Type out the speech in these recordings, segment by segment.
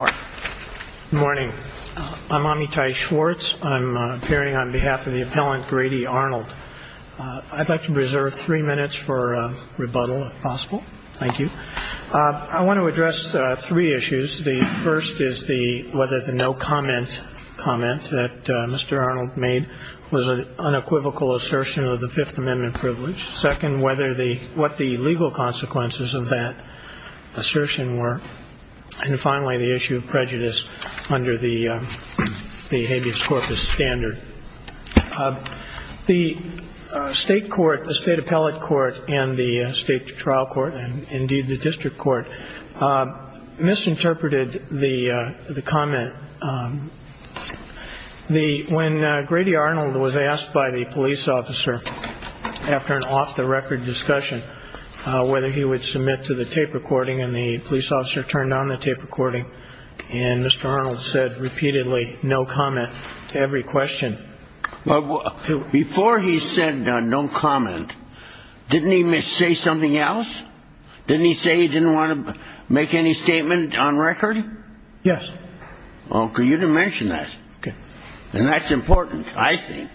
Good morning. I'm Amitai Schwartz. I'm appearing on behalf of the appellant Grady Arnold. I'd like to reserve three minutes for rebuttal, if possible. Thank you. I want to address three issues. The first is the whether the no comment comment that Mr. Arnold made was an unequivocal assertion of the Fifth Amendment privilege. Second, what the legal consequences of that assertion were. And finally, the issue of prejudice under the habeas corpus standard. The state court, the state appellate court and the state trial court, and indeed the district court, misinterpreted the comment. The when Grady Arnold was asked by the police officer after an off the record discussion whether he would submit to the tape recording and the police officer turned on the tape recording and Mr. Arnold said repeatedly no comment to every question. Before he said no comment, didn't he say something else? Didn't he say he didn't want to make any statement on record? Yes. OK. You didn't mention that. And that's important, I think.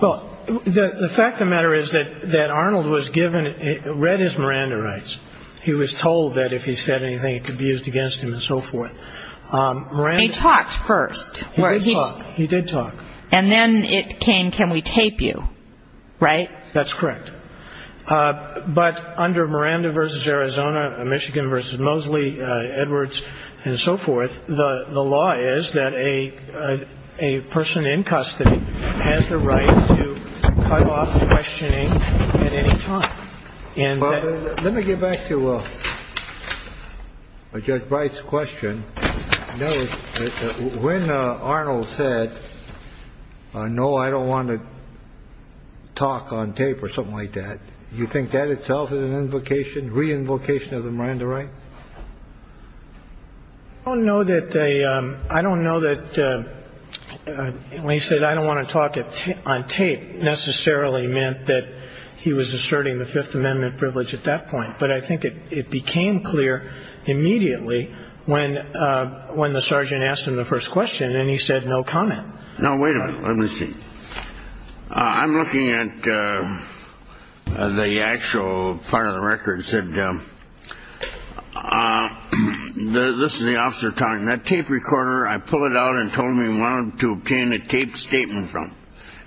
Well, the fact of the matter is that that Arnold was given read his Miranda rights. He was told that if he said anything, it could be used against him and so forth. He talked first. He did talk. And then it came. Can we tape you? Right. That's correct. But under Miranda versus Arizona, Michigan versus Mosley, Edwards and so forth, the law is that a person in custody has the right to cut off questioning at any time. And let me get back to a judge price question. When Arnold said, no, I don't want to talk on tape or something like that. You think that itself is an invocation, reinvocation of the Miranda right? I don't know that they I don't know that when he said I don't want to talk on tape necessarily meant that he was asserting the Fifth Amendment privilege at that point. But I think it became clear immediately when when the sergeant asked him the first question and he said no comment. Now, wait a minute. Let me see. I'm looking at the actual part of the record said this is the officer talking that tape recorder. I pull it out and told me one to obtain a tape statement from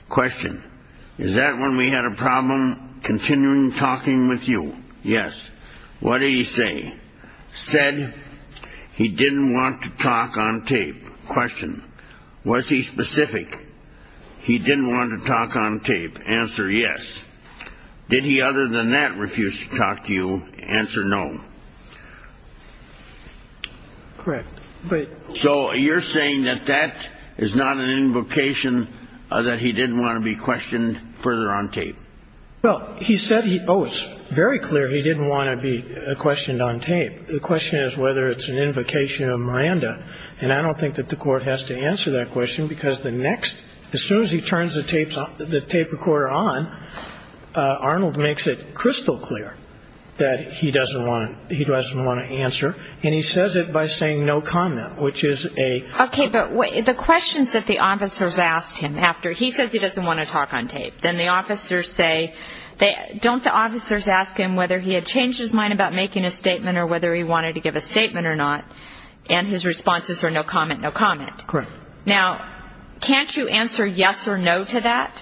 question. Is that when we had a problem continuing talking with you? Yes. What do you say? He didn't want to talk on tape question. Was he specific? He didn't want to talk on tape. Answer. Yes. Did he other than that refuse to talk to you? Answer no. Correct. But so you're saying that that is not an invocation that he didn't want to be questioned further on tape. Well, he said, oh, it's very clear he didn't want to be questioned on tape. The question is whether it's an invocation of Miranda. And I don't think that the court has to answer that question because the next as soon as he turns the tape the tape recorder on, Arnold makes it crystal clear that he doesn't want he doesn't want to answer. And he says it by saying no comment, which is a. OK, but the questions that the officers asked him after he says he doesn't want to talk on tape, then the officers say they don't. The officers ask him whether he had changed his mind about making a statement or whether he wanted to give a statement or not. And his responses are no comment, no comment. Now, can't you answer yes or no to that?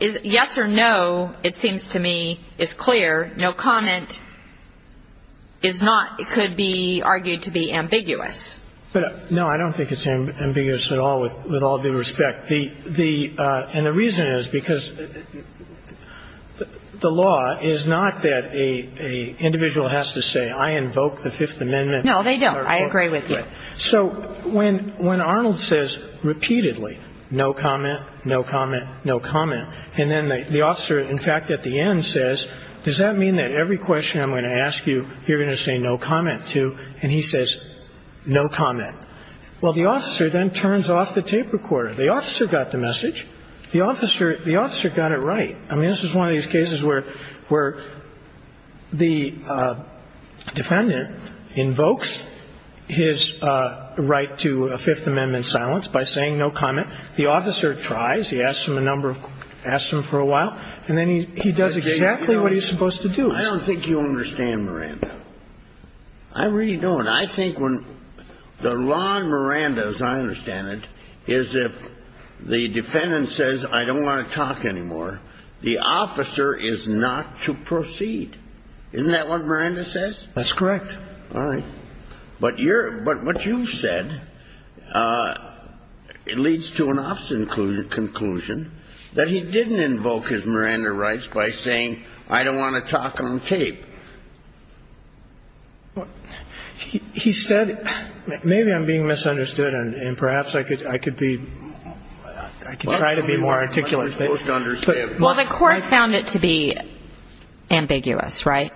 Yes or no. It seems to me is clear. No comment is not. It could be argued to be ambiguous. No, I don't think it's ambiguous at all with with all due respect. The the and the reason is because the law is not that a individual has to say I invoke the Fifth Amendment. No, they don't. I agree with you. So when when Arnold says repeatedly no comment, no comment, no comment, and then the officer, in fact, at the end says, does that mean that every question I'm going to ask you, you're going to say no comment to? And he says no comment. Well, the officer then turns off the tape recorder. The officer got the message. The officer the officer got it right. I mean, this is one of these cases where where the defendant invokes his right to a Fifth Amendment silence by saying no comment. The officer tries. He asks him a number of asks him for a while. And then he he does exactly what he's supposed to do. I don't think you understand, Miranda. I really don't. And I think when the law, Miranda, as I understand it, is if the defendant says I don't want to talk anymore, the officer is not to proceed. Isn't that what Miranda says? That's correct. All right. But you're but what you've said, it leads to an opposite conclusion, conclusion that he didn't invoke his Miranda rights by saying I don't want to talk on tape. He said maybe I'm being misunderstood, and perhaps I could I could be I could try to be more articulate. Most understand. Well, the court found it to be ambiguous. Right.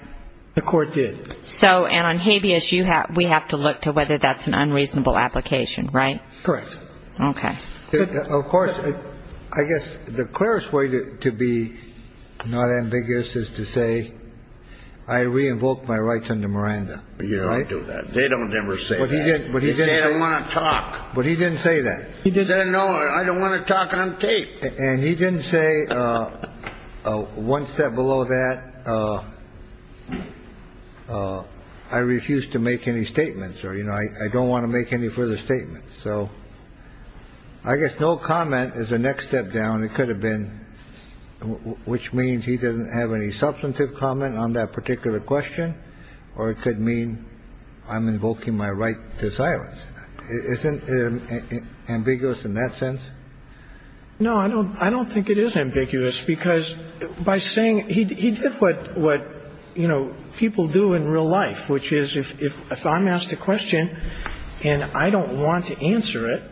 The court did. So and on habeas, you have we have to look to whether that's an unreasonable application. Right. Correct. OK. Of course, I guess the clearest way to be not ambiguous is to say I re-invoke my rights under Miranda. But you don't do that. They don't ever say what he did. But he didn't want to talk. But he didn't say that he did. No, I don't want to talk on tape. And he didn't say one step below that. I refuse to make any statements or, you know, I don't want to make any further statements. So I guess no comment is a next step down. It could have been, which means he doesn't have any substantive comment on that particular question. Or it could mean I'm invoking my right to silence. Isn't it ambiguous in that sense? No, I don't. I don't think it is ambiguous because by saying he did what what, you know, people do in real life, which is if I'm asked a question and I don't want to answer it,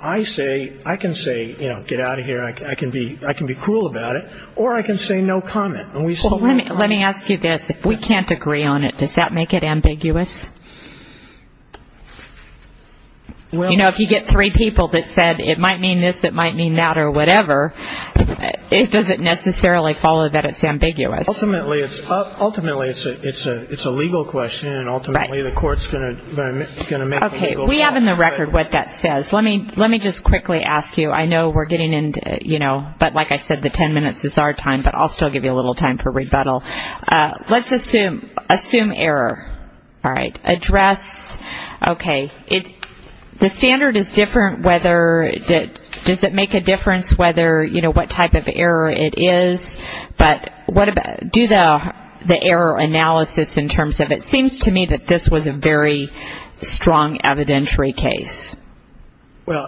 I say, I can say, you know, get out of here. I can be cruel about it. Or I can say no comment. Let me ask you this. If we can't agree on it, does that make it ambiguous? You know, if you get three people that said it might mean this, it might mean that or whatever, does it necessarily follow that it's ambiguous? Ultimately it's a legal question and ultimately the court is going to make the legal call. Okay. We have in the record what that says. Let me just quickly ask you. I know we're getting into, you know, but like I said, the ten minutes is our time, but I'll still give you a little time for rebuttal. Let's assume error. All right. Address. Okay. The standard is different whether it does it make a difference whether, you know, what type of error it is. But do the error analysis in terms of it seems to me that this was a very strong evidentiary case. Well,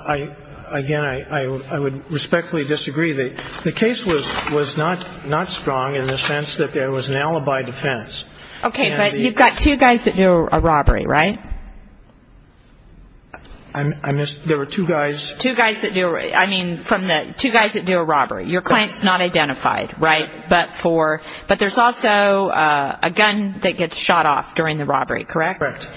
again, I would respectfully disagree. The case was not strong in the sense that there was an alibi defense. Okay. But you've got two guys that do a robbery, right? There were two guys. Two guys that do a robbery. Your client's not identified, right? But there's also a gun that gets shot off during the robbery, correct? Correct.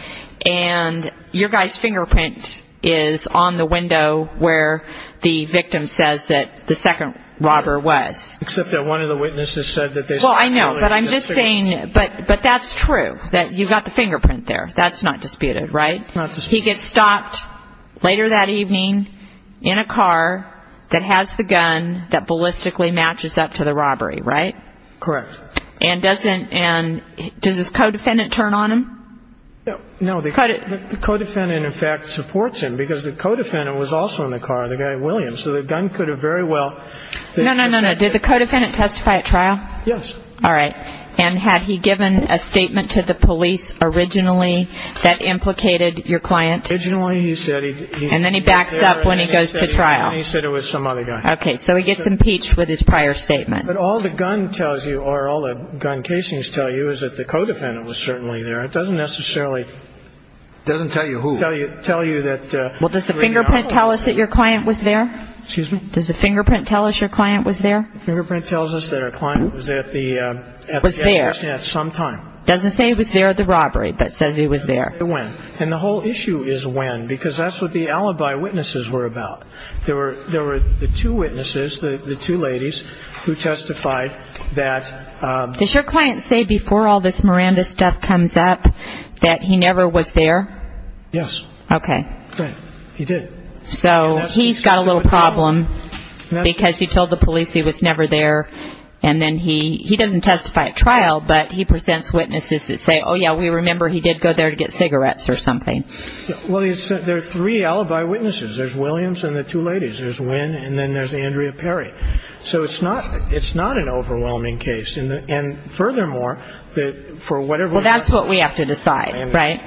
And your guy's fingerprint is on the window where the victim says that the second robber was. Except that one of the witnesses said that they saw the other guy's fingerprint. Well, I know, but I'm just saying, but that's true, that you've got the fingerprint there. That's not disputed, right? Not disputed. And he gets stopped later that evening in a car that has the gun that ballistically matches up to the robbery, right? Correct. And does his co-defendant turn on him? No. The co-defendant, in fact, supports him because the co-defendant was also in the car, the guy Williams. So the gun could have very well been. No, no, no, no. Yes. All right. And had he given a statement to the police originally that implicated your client? Originally, he said he. And then he backs up when he goes to trial. He said it was some other guy. Okay. So he gets impeached with his prior statement. But all the gun tells you or all the gun casings tell you is that the co-defendant was certainly there. It doesn't necessarily. It doesn't tell you who. Tell you that. Well, does the fingerprint tell us that your client was there? Excuse me? Does the fingerprint tell us your client was there? The fingerprint tells us that our client was there at the. Was there. At some time. Doesn't say he was there at the robbery, but says he was there. And the whole issue is when, because that's what the alibi witnesses were about. There were the two witnesses, the two ladies, who testified that. Does your client say before all this Miranda stuff comes up that he never was there? Yes. Okay. Right. He did. So he's got a little problem because he told the police he was never there. And then he doesn't testify at trial, but he presents witnesses that say, oh, yeah, we remember he did go there to get cigarettes or something. Well, there are three alibi witnesses. There's Williams and the two ladies. There's Wynn, and then there's Andrea Perry. So it's not an overwhelming case. And furthermore, for whatever reason. Well, that's what we have to decide, right,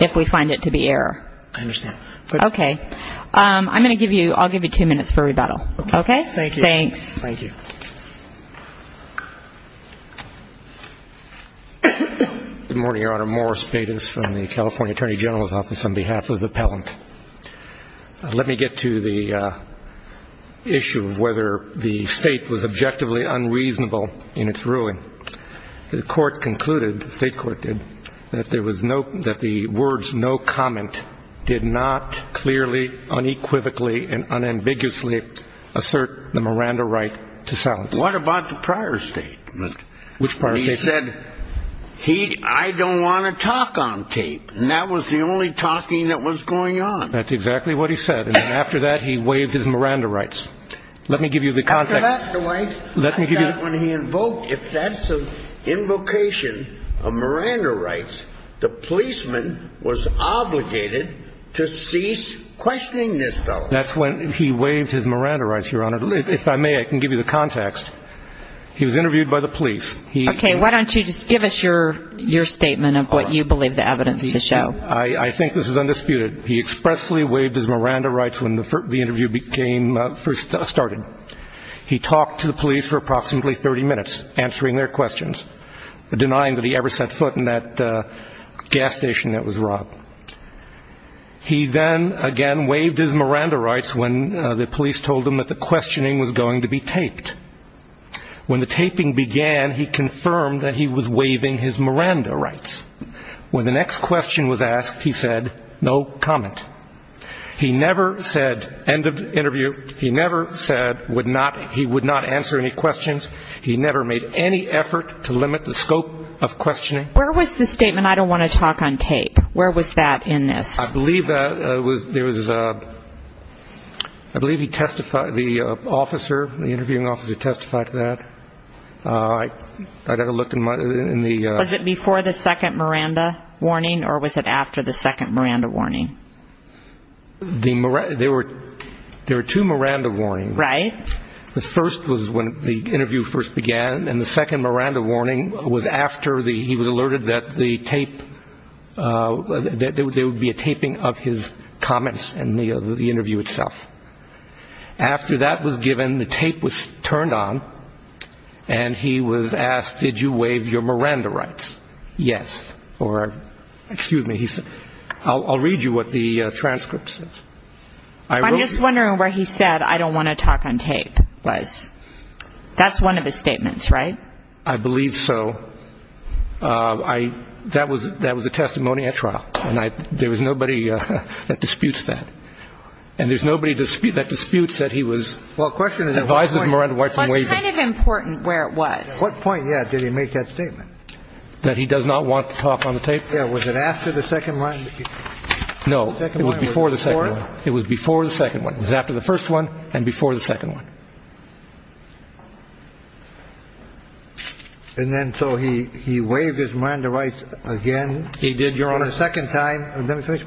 if we find it to be error. I understand. Okay. I'm going to give you, I'll give you two minutes for rebuttal. Okay. Thank you. Thanks. Thank you. Good morning, Your Honor. Morris Bates from the California Attorney General's Office on behalf of the appellant. Let me get to the issue of whether the state was objectively unreasonable in its ruling. The court concluded, the state court did, that there was no, that the words no comment did not clearly, unequivocally, and unambiguously assert the Miranda right to silence. What about the prior statement? Which prior statement? He said, I don't want to talk on tape. And that was the only talking that was going on. That's exactly what he said. And then after that, he waived his Miranda rights. Let me give you the context. After that, Dwight, I thought when he invoked, if that's an invocation of Miranda rights, the policeman was obligated to cease questioning this fellow. That's when he waived his Miranda rights, Your Honor. If I may, I can give you the context. He was interviewed by the police. Okay. Why don't you just give us your statement of what you believe the evidence to show. I think this is undisputed. He expressly waived his Miranda rights when the interview first started. He talked to the police for approximately 30 minutes, answering their questions, denying that he ever set foot in that gas station that was robbed. He then again waived his Miranda rights when the police told him that the questioning was going to be taped. When the taping began, he confirmed that he was waiving his Miranda rights. When the next question was asked, he said, no comment. He never said end of interview. He never said he would not answer any questions. He never made any effort to limit the scope of questioning. Where was the statement, I don't want to talk on tape, where was that in this? I believe there was a ‑‑ I believe he testified, the officer, the interviewing officer testified to that. I got a look in the ‑‑ Was it before the second Miranda warning or was it after the second Miranda warning? There were two Miranda warnings. Right. The first was when the interview first began, and the second Miranda warning was after he was alerted that the tape, that there would be a taping of his comments in the interview itself. After that was given, the tape was turned on, and he was asked, did you waive your Miranda rights? Yes. Or, excuse me, he said, I'll read you what the transcript says. I'm just wondering where he said I don't want to talk on tape was. That's one of his statements, right? I believe so. That was a testimony at trial, and there was nobody that disputes that. And there's nobody that disputes that he was ‑‑ Well, the question is at what point ‑‑ Advises Miranda rights on waiving. What's kind of important where it was? At what point, yeah, did he make that statement? That he does not want to talk on the tape? Yeah, was it after the second Miranda? No, it was before the second one. It was before the second one. It was after the first one and before the second one. And then so he waived his Miranda rights again? He did, Your Honor. For the second time. Let me finish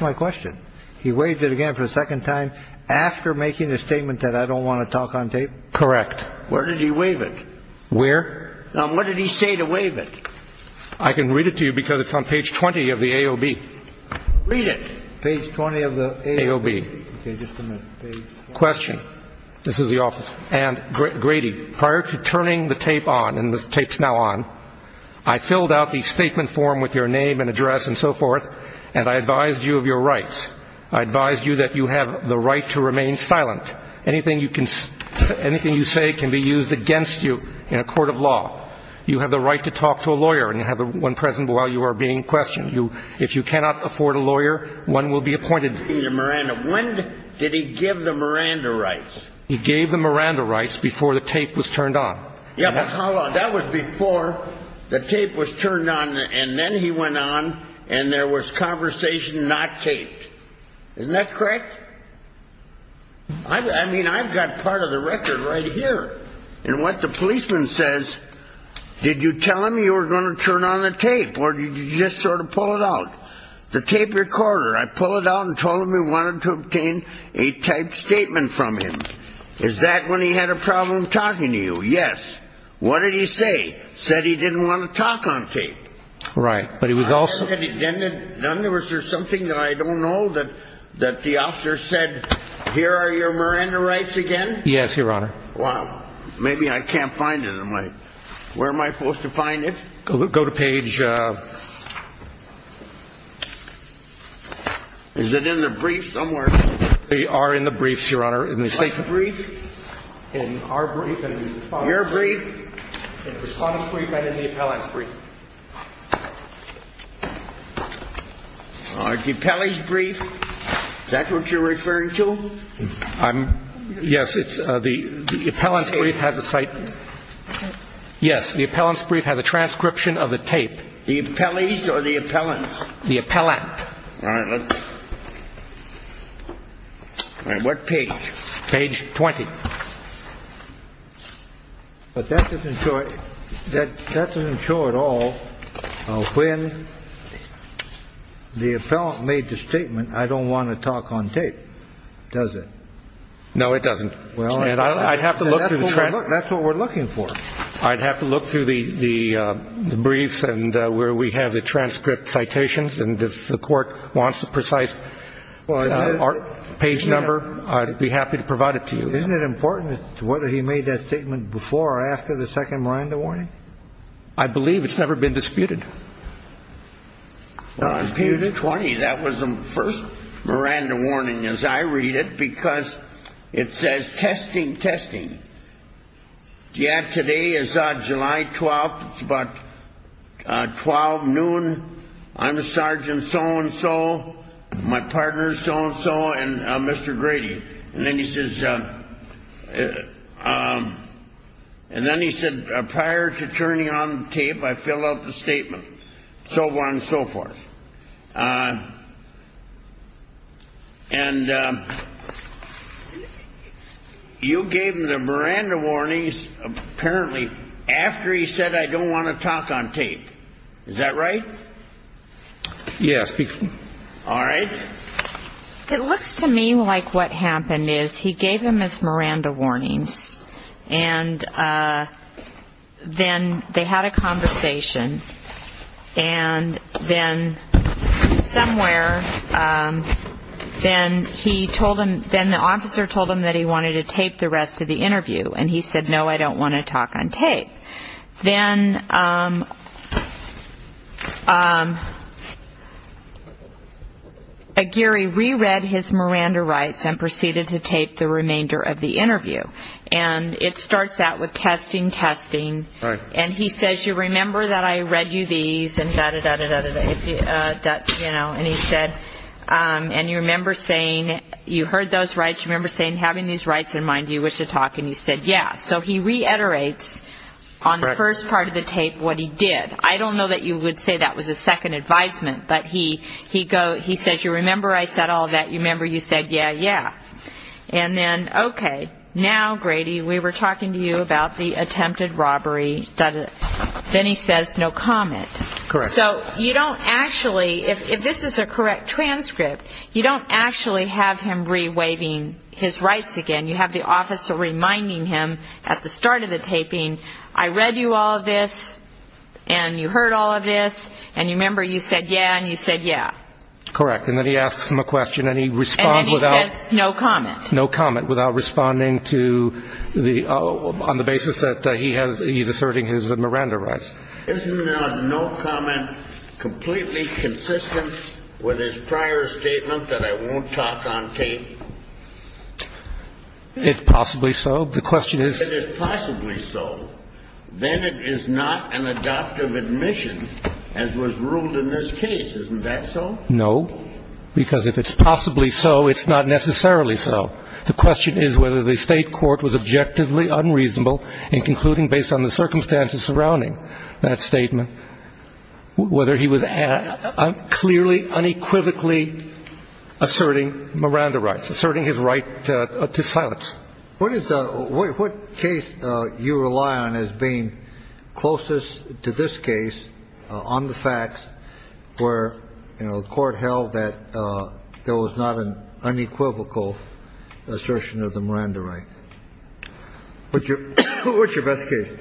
my question. He waived it again for the second time after making the statement that I don't want to talk on tape? Correct. Where did he waive it? Where? What did he say to waive it? I can read it to you because it's on page 20 of the AOB. Read it. Page 20 of the AOB. AOB. Okay, just a minute. Page 20. Question. This is the office. And, Grady, prior to turning the tape on, and the tape's now on, I filled out the statement form with your name and address and so forth, and I advised you of your rights. I advised you that you have the right to remain silent. Anything you say can be used against you in a court of law. You have the right to talk to a lawyer, and you have one present while you are being questioned. If you cannot afford a lawyer, one will be appointed. When did he give the Miranda rights? He gave the Miranda rights before the tape was turned on. Yeah, but how long? That was before the tape was turned on, and then he went on, and there was conversation not taped. Isn't that correct? I mean, I've got part of the record right here. And what the policeman says, did you tell him you were going to turn on the tape, or did you just sort of pull it out? The tape recorder, I pulled it out and told him we wanted to obtain a typed statement from him. Is that when he had a problem talking to you? Yes. What did he say? Said he didn't want to talk on tape. Right, but he was also – Was there something that I don't know that the officer said, here are your Miranda rights again? Yes, Your Honor. Well, maybe I can't find it. Where am I supposed to find it? Go to page – Is it in the briefs somewhere? They are in the briefs, Your Honor. In the briefs? In our brief and the Respondent's. Your brief, the Respondent's brief, and in the appellant's brief. All right. The appellant's brief, is that what you're referring to? I'm – yes, it's – the appellant's brief has a site – yes, the appellant's brief has a transcription of the tape. The appellant's or the appellant's? The appellant. All right. All right, what page? Page 20. But that doesn't show – that doesn't show at all when the appellant made the statement, I don't want to talk on tape, does it? No, it doesn't. And I'd have to look through the transcript. That's what we're looking for. I'd have to look through the briefs and where we have the transcript citations, and if the court wants the precise page number, I'd be happy to provide it to you. Isn't it important whether he made that statement before or after the second Miranda warning? I believe it's never been disputed. Page 20, that was the first Miranda warning as I read it because it says, testing, testing. Yeah, today is July 12th. It's about 12 noon. I'm a sergeant so-and-so, my partner's so-and-so, and Mr. Grady. And then he says – and then he said, prior to turning on the tape, I filled out the statement, so on and so forth. And you gave him the Miranda warnings apparently after he said, I don't want to talk on tape. Is that right? Yes. All right. It looks to me like what happened is he gave him his Miranda warnings, and then they had a conversation, and then somewhere, then the officer told him that he wanted to tape the rest of the interview, and he said, no, I don't want to talk on tape. Then Aguirre reread his Miranda rights and proceeded to tape the remainder of the interview. And it starts out with testing, testing. Right. And he says, you remember that I read you these, and da-da-da-da-da-da, and he said, and you remember saying you heard those rights, you remember saying having these rights in mind, do you wish to talk, and you said, yeah. So he reiterates on the first part of the tape what he did. I don't know that you would say that was a second advisement, but he says, you remember I said all that, you remember you said, yeah, yeah. And then, okay, now, Grady, we were talking to you about the attempted robbery. Then he says no comment. Correct. So you don't actually, if this is a correct transcript, you don't actually have him re-waving his rights again. You have the officer reminding him at the start of the taping, I read you all of this, and you heard all of this, and you remember you said, yeah, and you said, yeah. Correct. And then he asks him a question and he responds without. And then he says no comment. No comment without responding to the, on the basis that he has, he's asserting his Miranda rights. Isn't a no comment completely consistent with his prior statement that I won't talk on tape? If possibly so. The question is. If it is possibly so, then it is not an adoptive admission as was ruled in this case. Isn't that so? No, because if it's possibly so, it's not necessarily so. The question is whether the State court was objectively unreasonable in concluding, based on the circumstances surrounding that statement, whether he was clearly, unequivocally asserting Miranda rights, asserting his right to silence. What is the, what case you rely on as being closest to this case on the facts where, you know, the court held that there was not an unequivocal assertion of the Miranda right? What's your best case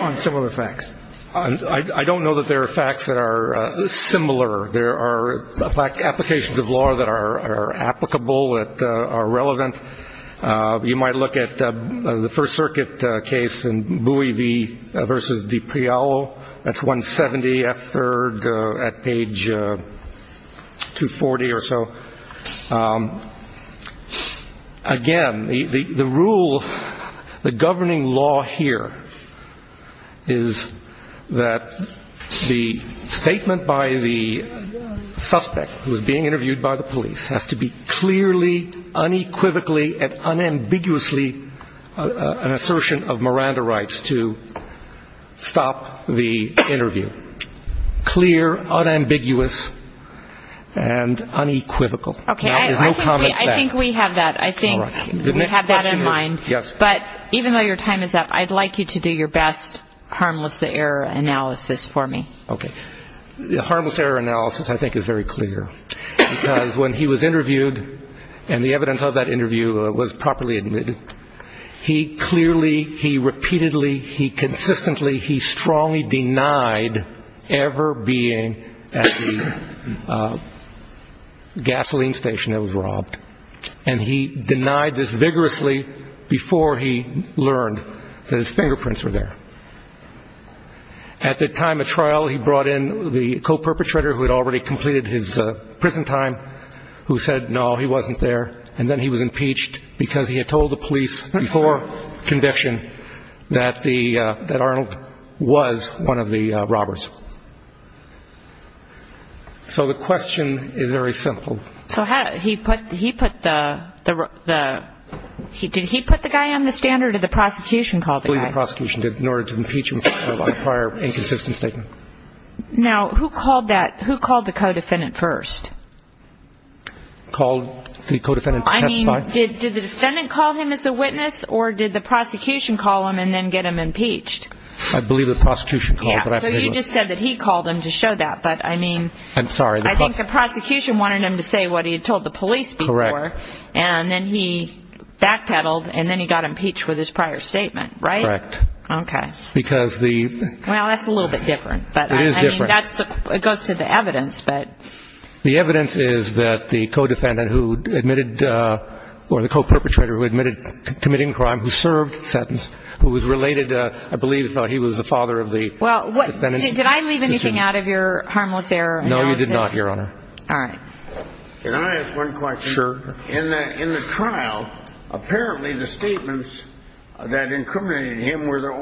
on similar facts? I don't know that there are facts that are similar. There are applications of law that are applicable, that are relevant. You might look at the First Circuit case in Bui v. DiPriolo. That's 170F3rd at page 240 or so. Again, the rule, the governing law here is that the statement by the suspect who is being interviewed by the police has to be clearly, unequivocally, and unambiguously an assertion of Miranda rights to stop the interview. Clear, unambiguous, and unequivocal. Okay, I think we have that. I think we have that in mind. Yes. But even though your time is up, I'd like you to do your best harmless error analysis for me. Okay. The harmless error analysis, I think, is very clear. Because when he was interviewed, and the evidence of that interview was properly admitted, he clearly, he repeatedly, he consistently, he strongly denied ever being at the gasoline station that was robbed. And he denied this vigorously before he learned that his fingerprints were there. At the time of trial, he brought in the co-perpetrator who had already completed his prison time, who said, no, he wasn't there. And then he was impeached because he had told the police before conviction that Arnold was one of the robbers. So the question is very simple. So he put the, did he put the guy on the stand or did the prosecution call the guy? I believe the prosecution did in order to impeach him for a prior inconsistent statement. Now, who called that, who called the co-defendant first? Called the co-defendant first. I mean, did the defendant call him as a witness or did the prosecution call him and then get him impeached? I believe the prosecution called. So you just said that he called him to show that. But I mean, I think the prosecution wanted him to say what he had told the police before. Correct. And then he backpedaled and then he got impeached with his prior statement, right? Correct. Okay. Because the Well, that's a little bit different. It is different. But I mean, that's the, it goes to the evidence, but. The evidence is that the co-defendant who admitted, or the co-perpetrator who admitted committing crime, who served sentence, who was related, I believe he was the father of the defendant. Did I leave anything out of your harmless error analysis? No, you did not, Your Honor. All right. Can I ask one question? Sure. In the trial, apparently the statements that incriminated him were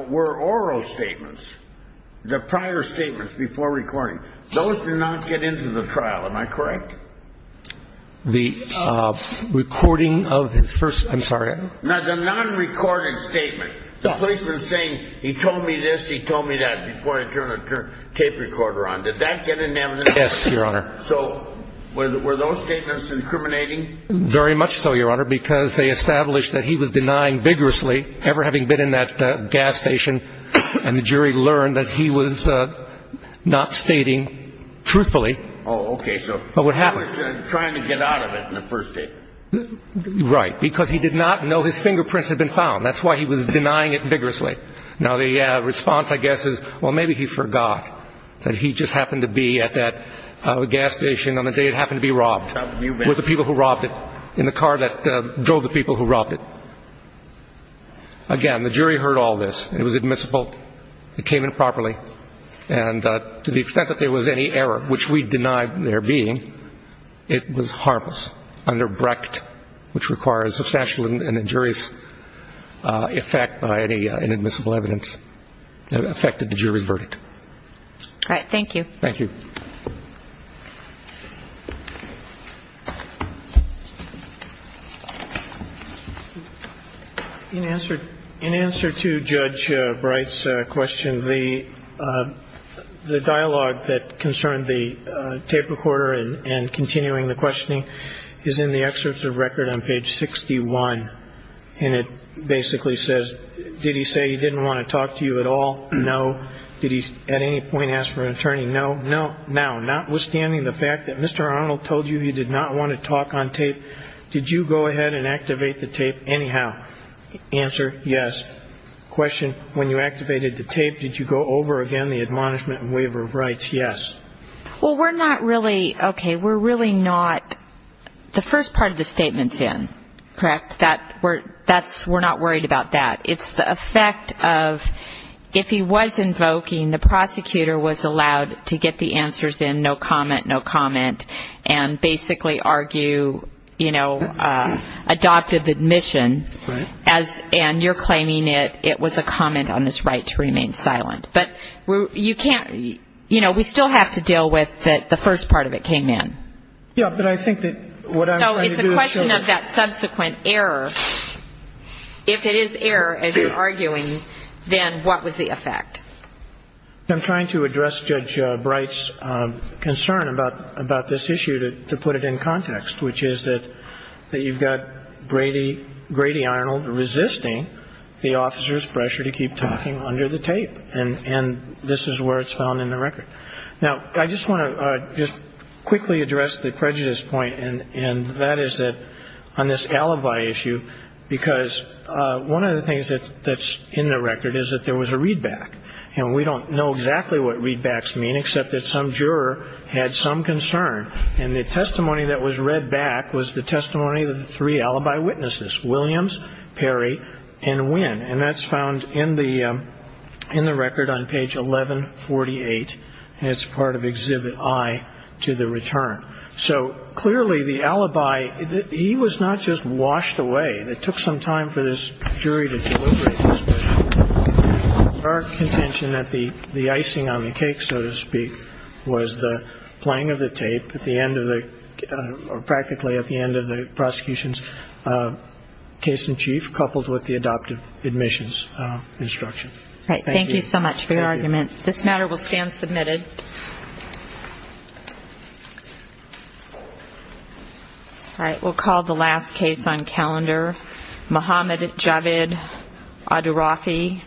oral statements. The prior statements before recording. Those did not get into the trial. Am I correct? The recording of his first, I'm sorry. No, the non-recorded statement. The policeman saying, he told me this, he told me that before I turned the tape recorder on. Did that get into evidence? Yes, Your Honor. So were those statements incriminating? Very much so, Your Honor, because they established that he was denying vigorously, ever having been in that gas station, and the jury learned that he was not stating truthfully. Oh, okay. But what happened? He was trying to get out of it in the first place. Right, because he did not know his fingerprints had been found. That's why he was denying it vigorously. Now, the response, I guess, is, well, maybe he forgot that he just happened to be at that gas station on the day it happened to be robbed, with the people who robbed it, in the car that drove the people who robbed it. Again, the jury heard all this. It was admissible. It came in properly. And to the extent that there was any error, which we denied there being, it was harmless under Brecht, which requires substantial and injurious effect by any inadmissible evidence that affected the jury's verdict. All right. Thank you. Thank you. In answer to Judge Brecht's question, the dialogue that concerned the tape recorder and continuing the questioning is in the excerpts of record on page 61. And it basically says, did he say he didn't want to talk to you at all? No. Did he at any point ask for an attorney? No. Now, notwithstanding the fact that Mr. Arnold told you he did not want to talk on tape, did you go ahead and activate the tape anyhow? Answer, yes. Question, when you activated the tape, did you go over again the admonishment and waiver of rights? Yes. Well, we're not really, okay, we're really not, the first part of the statement's in, correct? That's, we're not worried about that. It's the effect of if he was invoking, the prosecutor was allowed to get the answers in, no comment, no comment, and basically argue, you know, adoptive admission. Right. And you're claiming it was a comment on his right to remain silent. But you can't, you know, we still have to deal with the first part of it came in. Yeah, but I think that what I'm trying to do is show that. If it is error as you're arguing, then what was the effect? I'm trying to address Judge Bright's concern about this issue to put it in context, which is that you've got Grady Arnold resisting the officer's pressure to keep talking under the tape, and this is where it's found in the record. Now, I just want to just quickly address the prejudice point, and that is that on this alibi issue, because one of the things that's in the record is that there was a readback, and we don't know exactly what readbacks mean except that some juror had some concern, and the testimony that was read back was the testimony of the three alibi witnesses, Williams, Perry, and Winn, and that's found in the record on page 1148, and it's part of Exhibit I to the return. So clearly the alibi, he was not just washed away. It took some time for this jury to deliberate this, but our contention that the icing on the cake, so to speak, was the playing of the tape at the end of the or practically at the end of the prosecution's case in chief coupled with the adoptive admissions instruction. Thank you. Thank you so much for your argument. Thank you. This matter will stand submitted. All right. We'll call the last case on calendar. Mohammad Javid, Adirafi.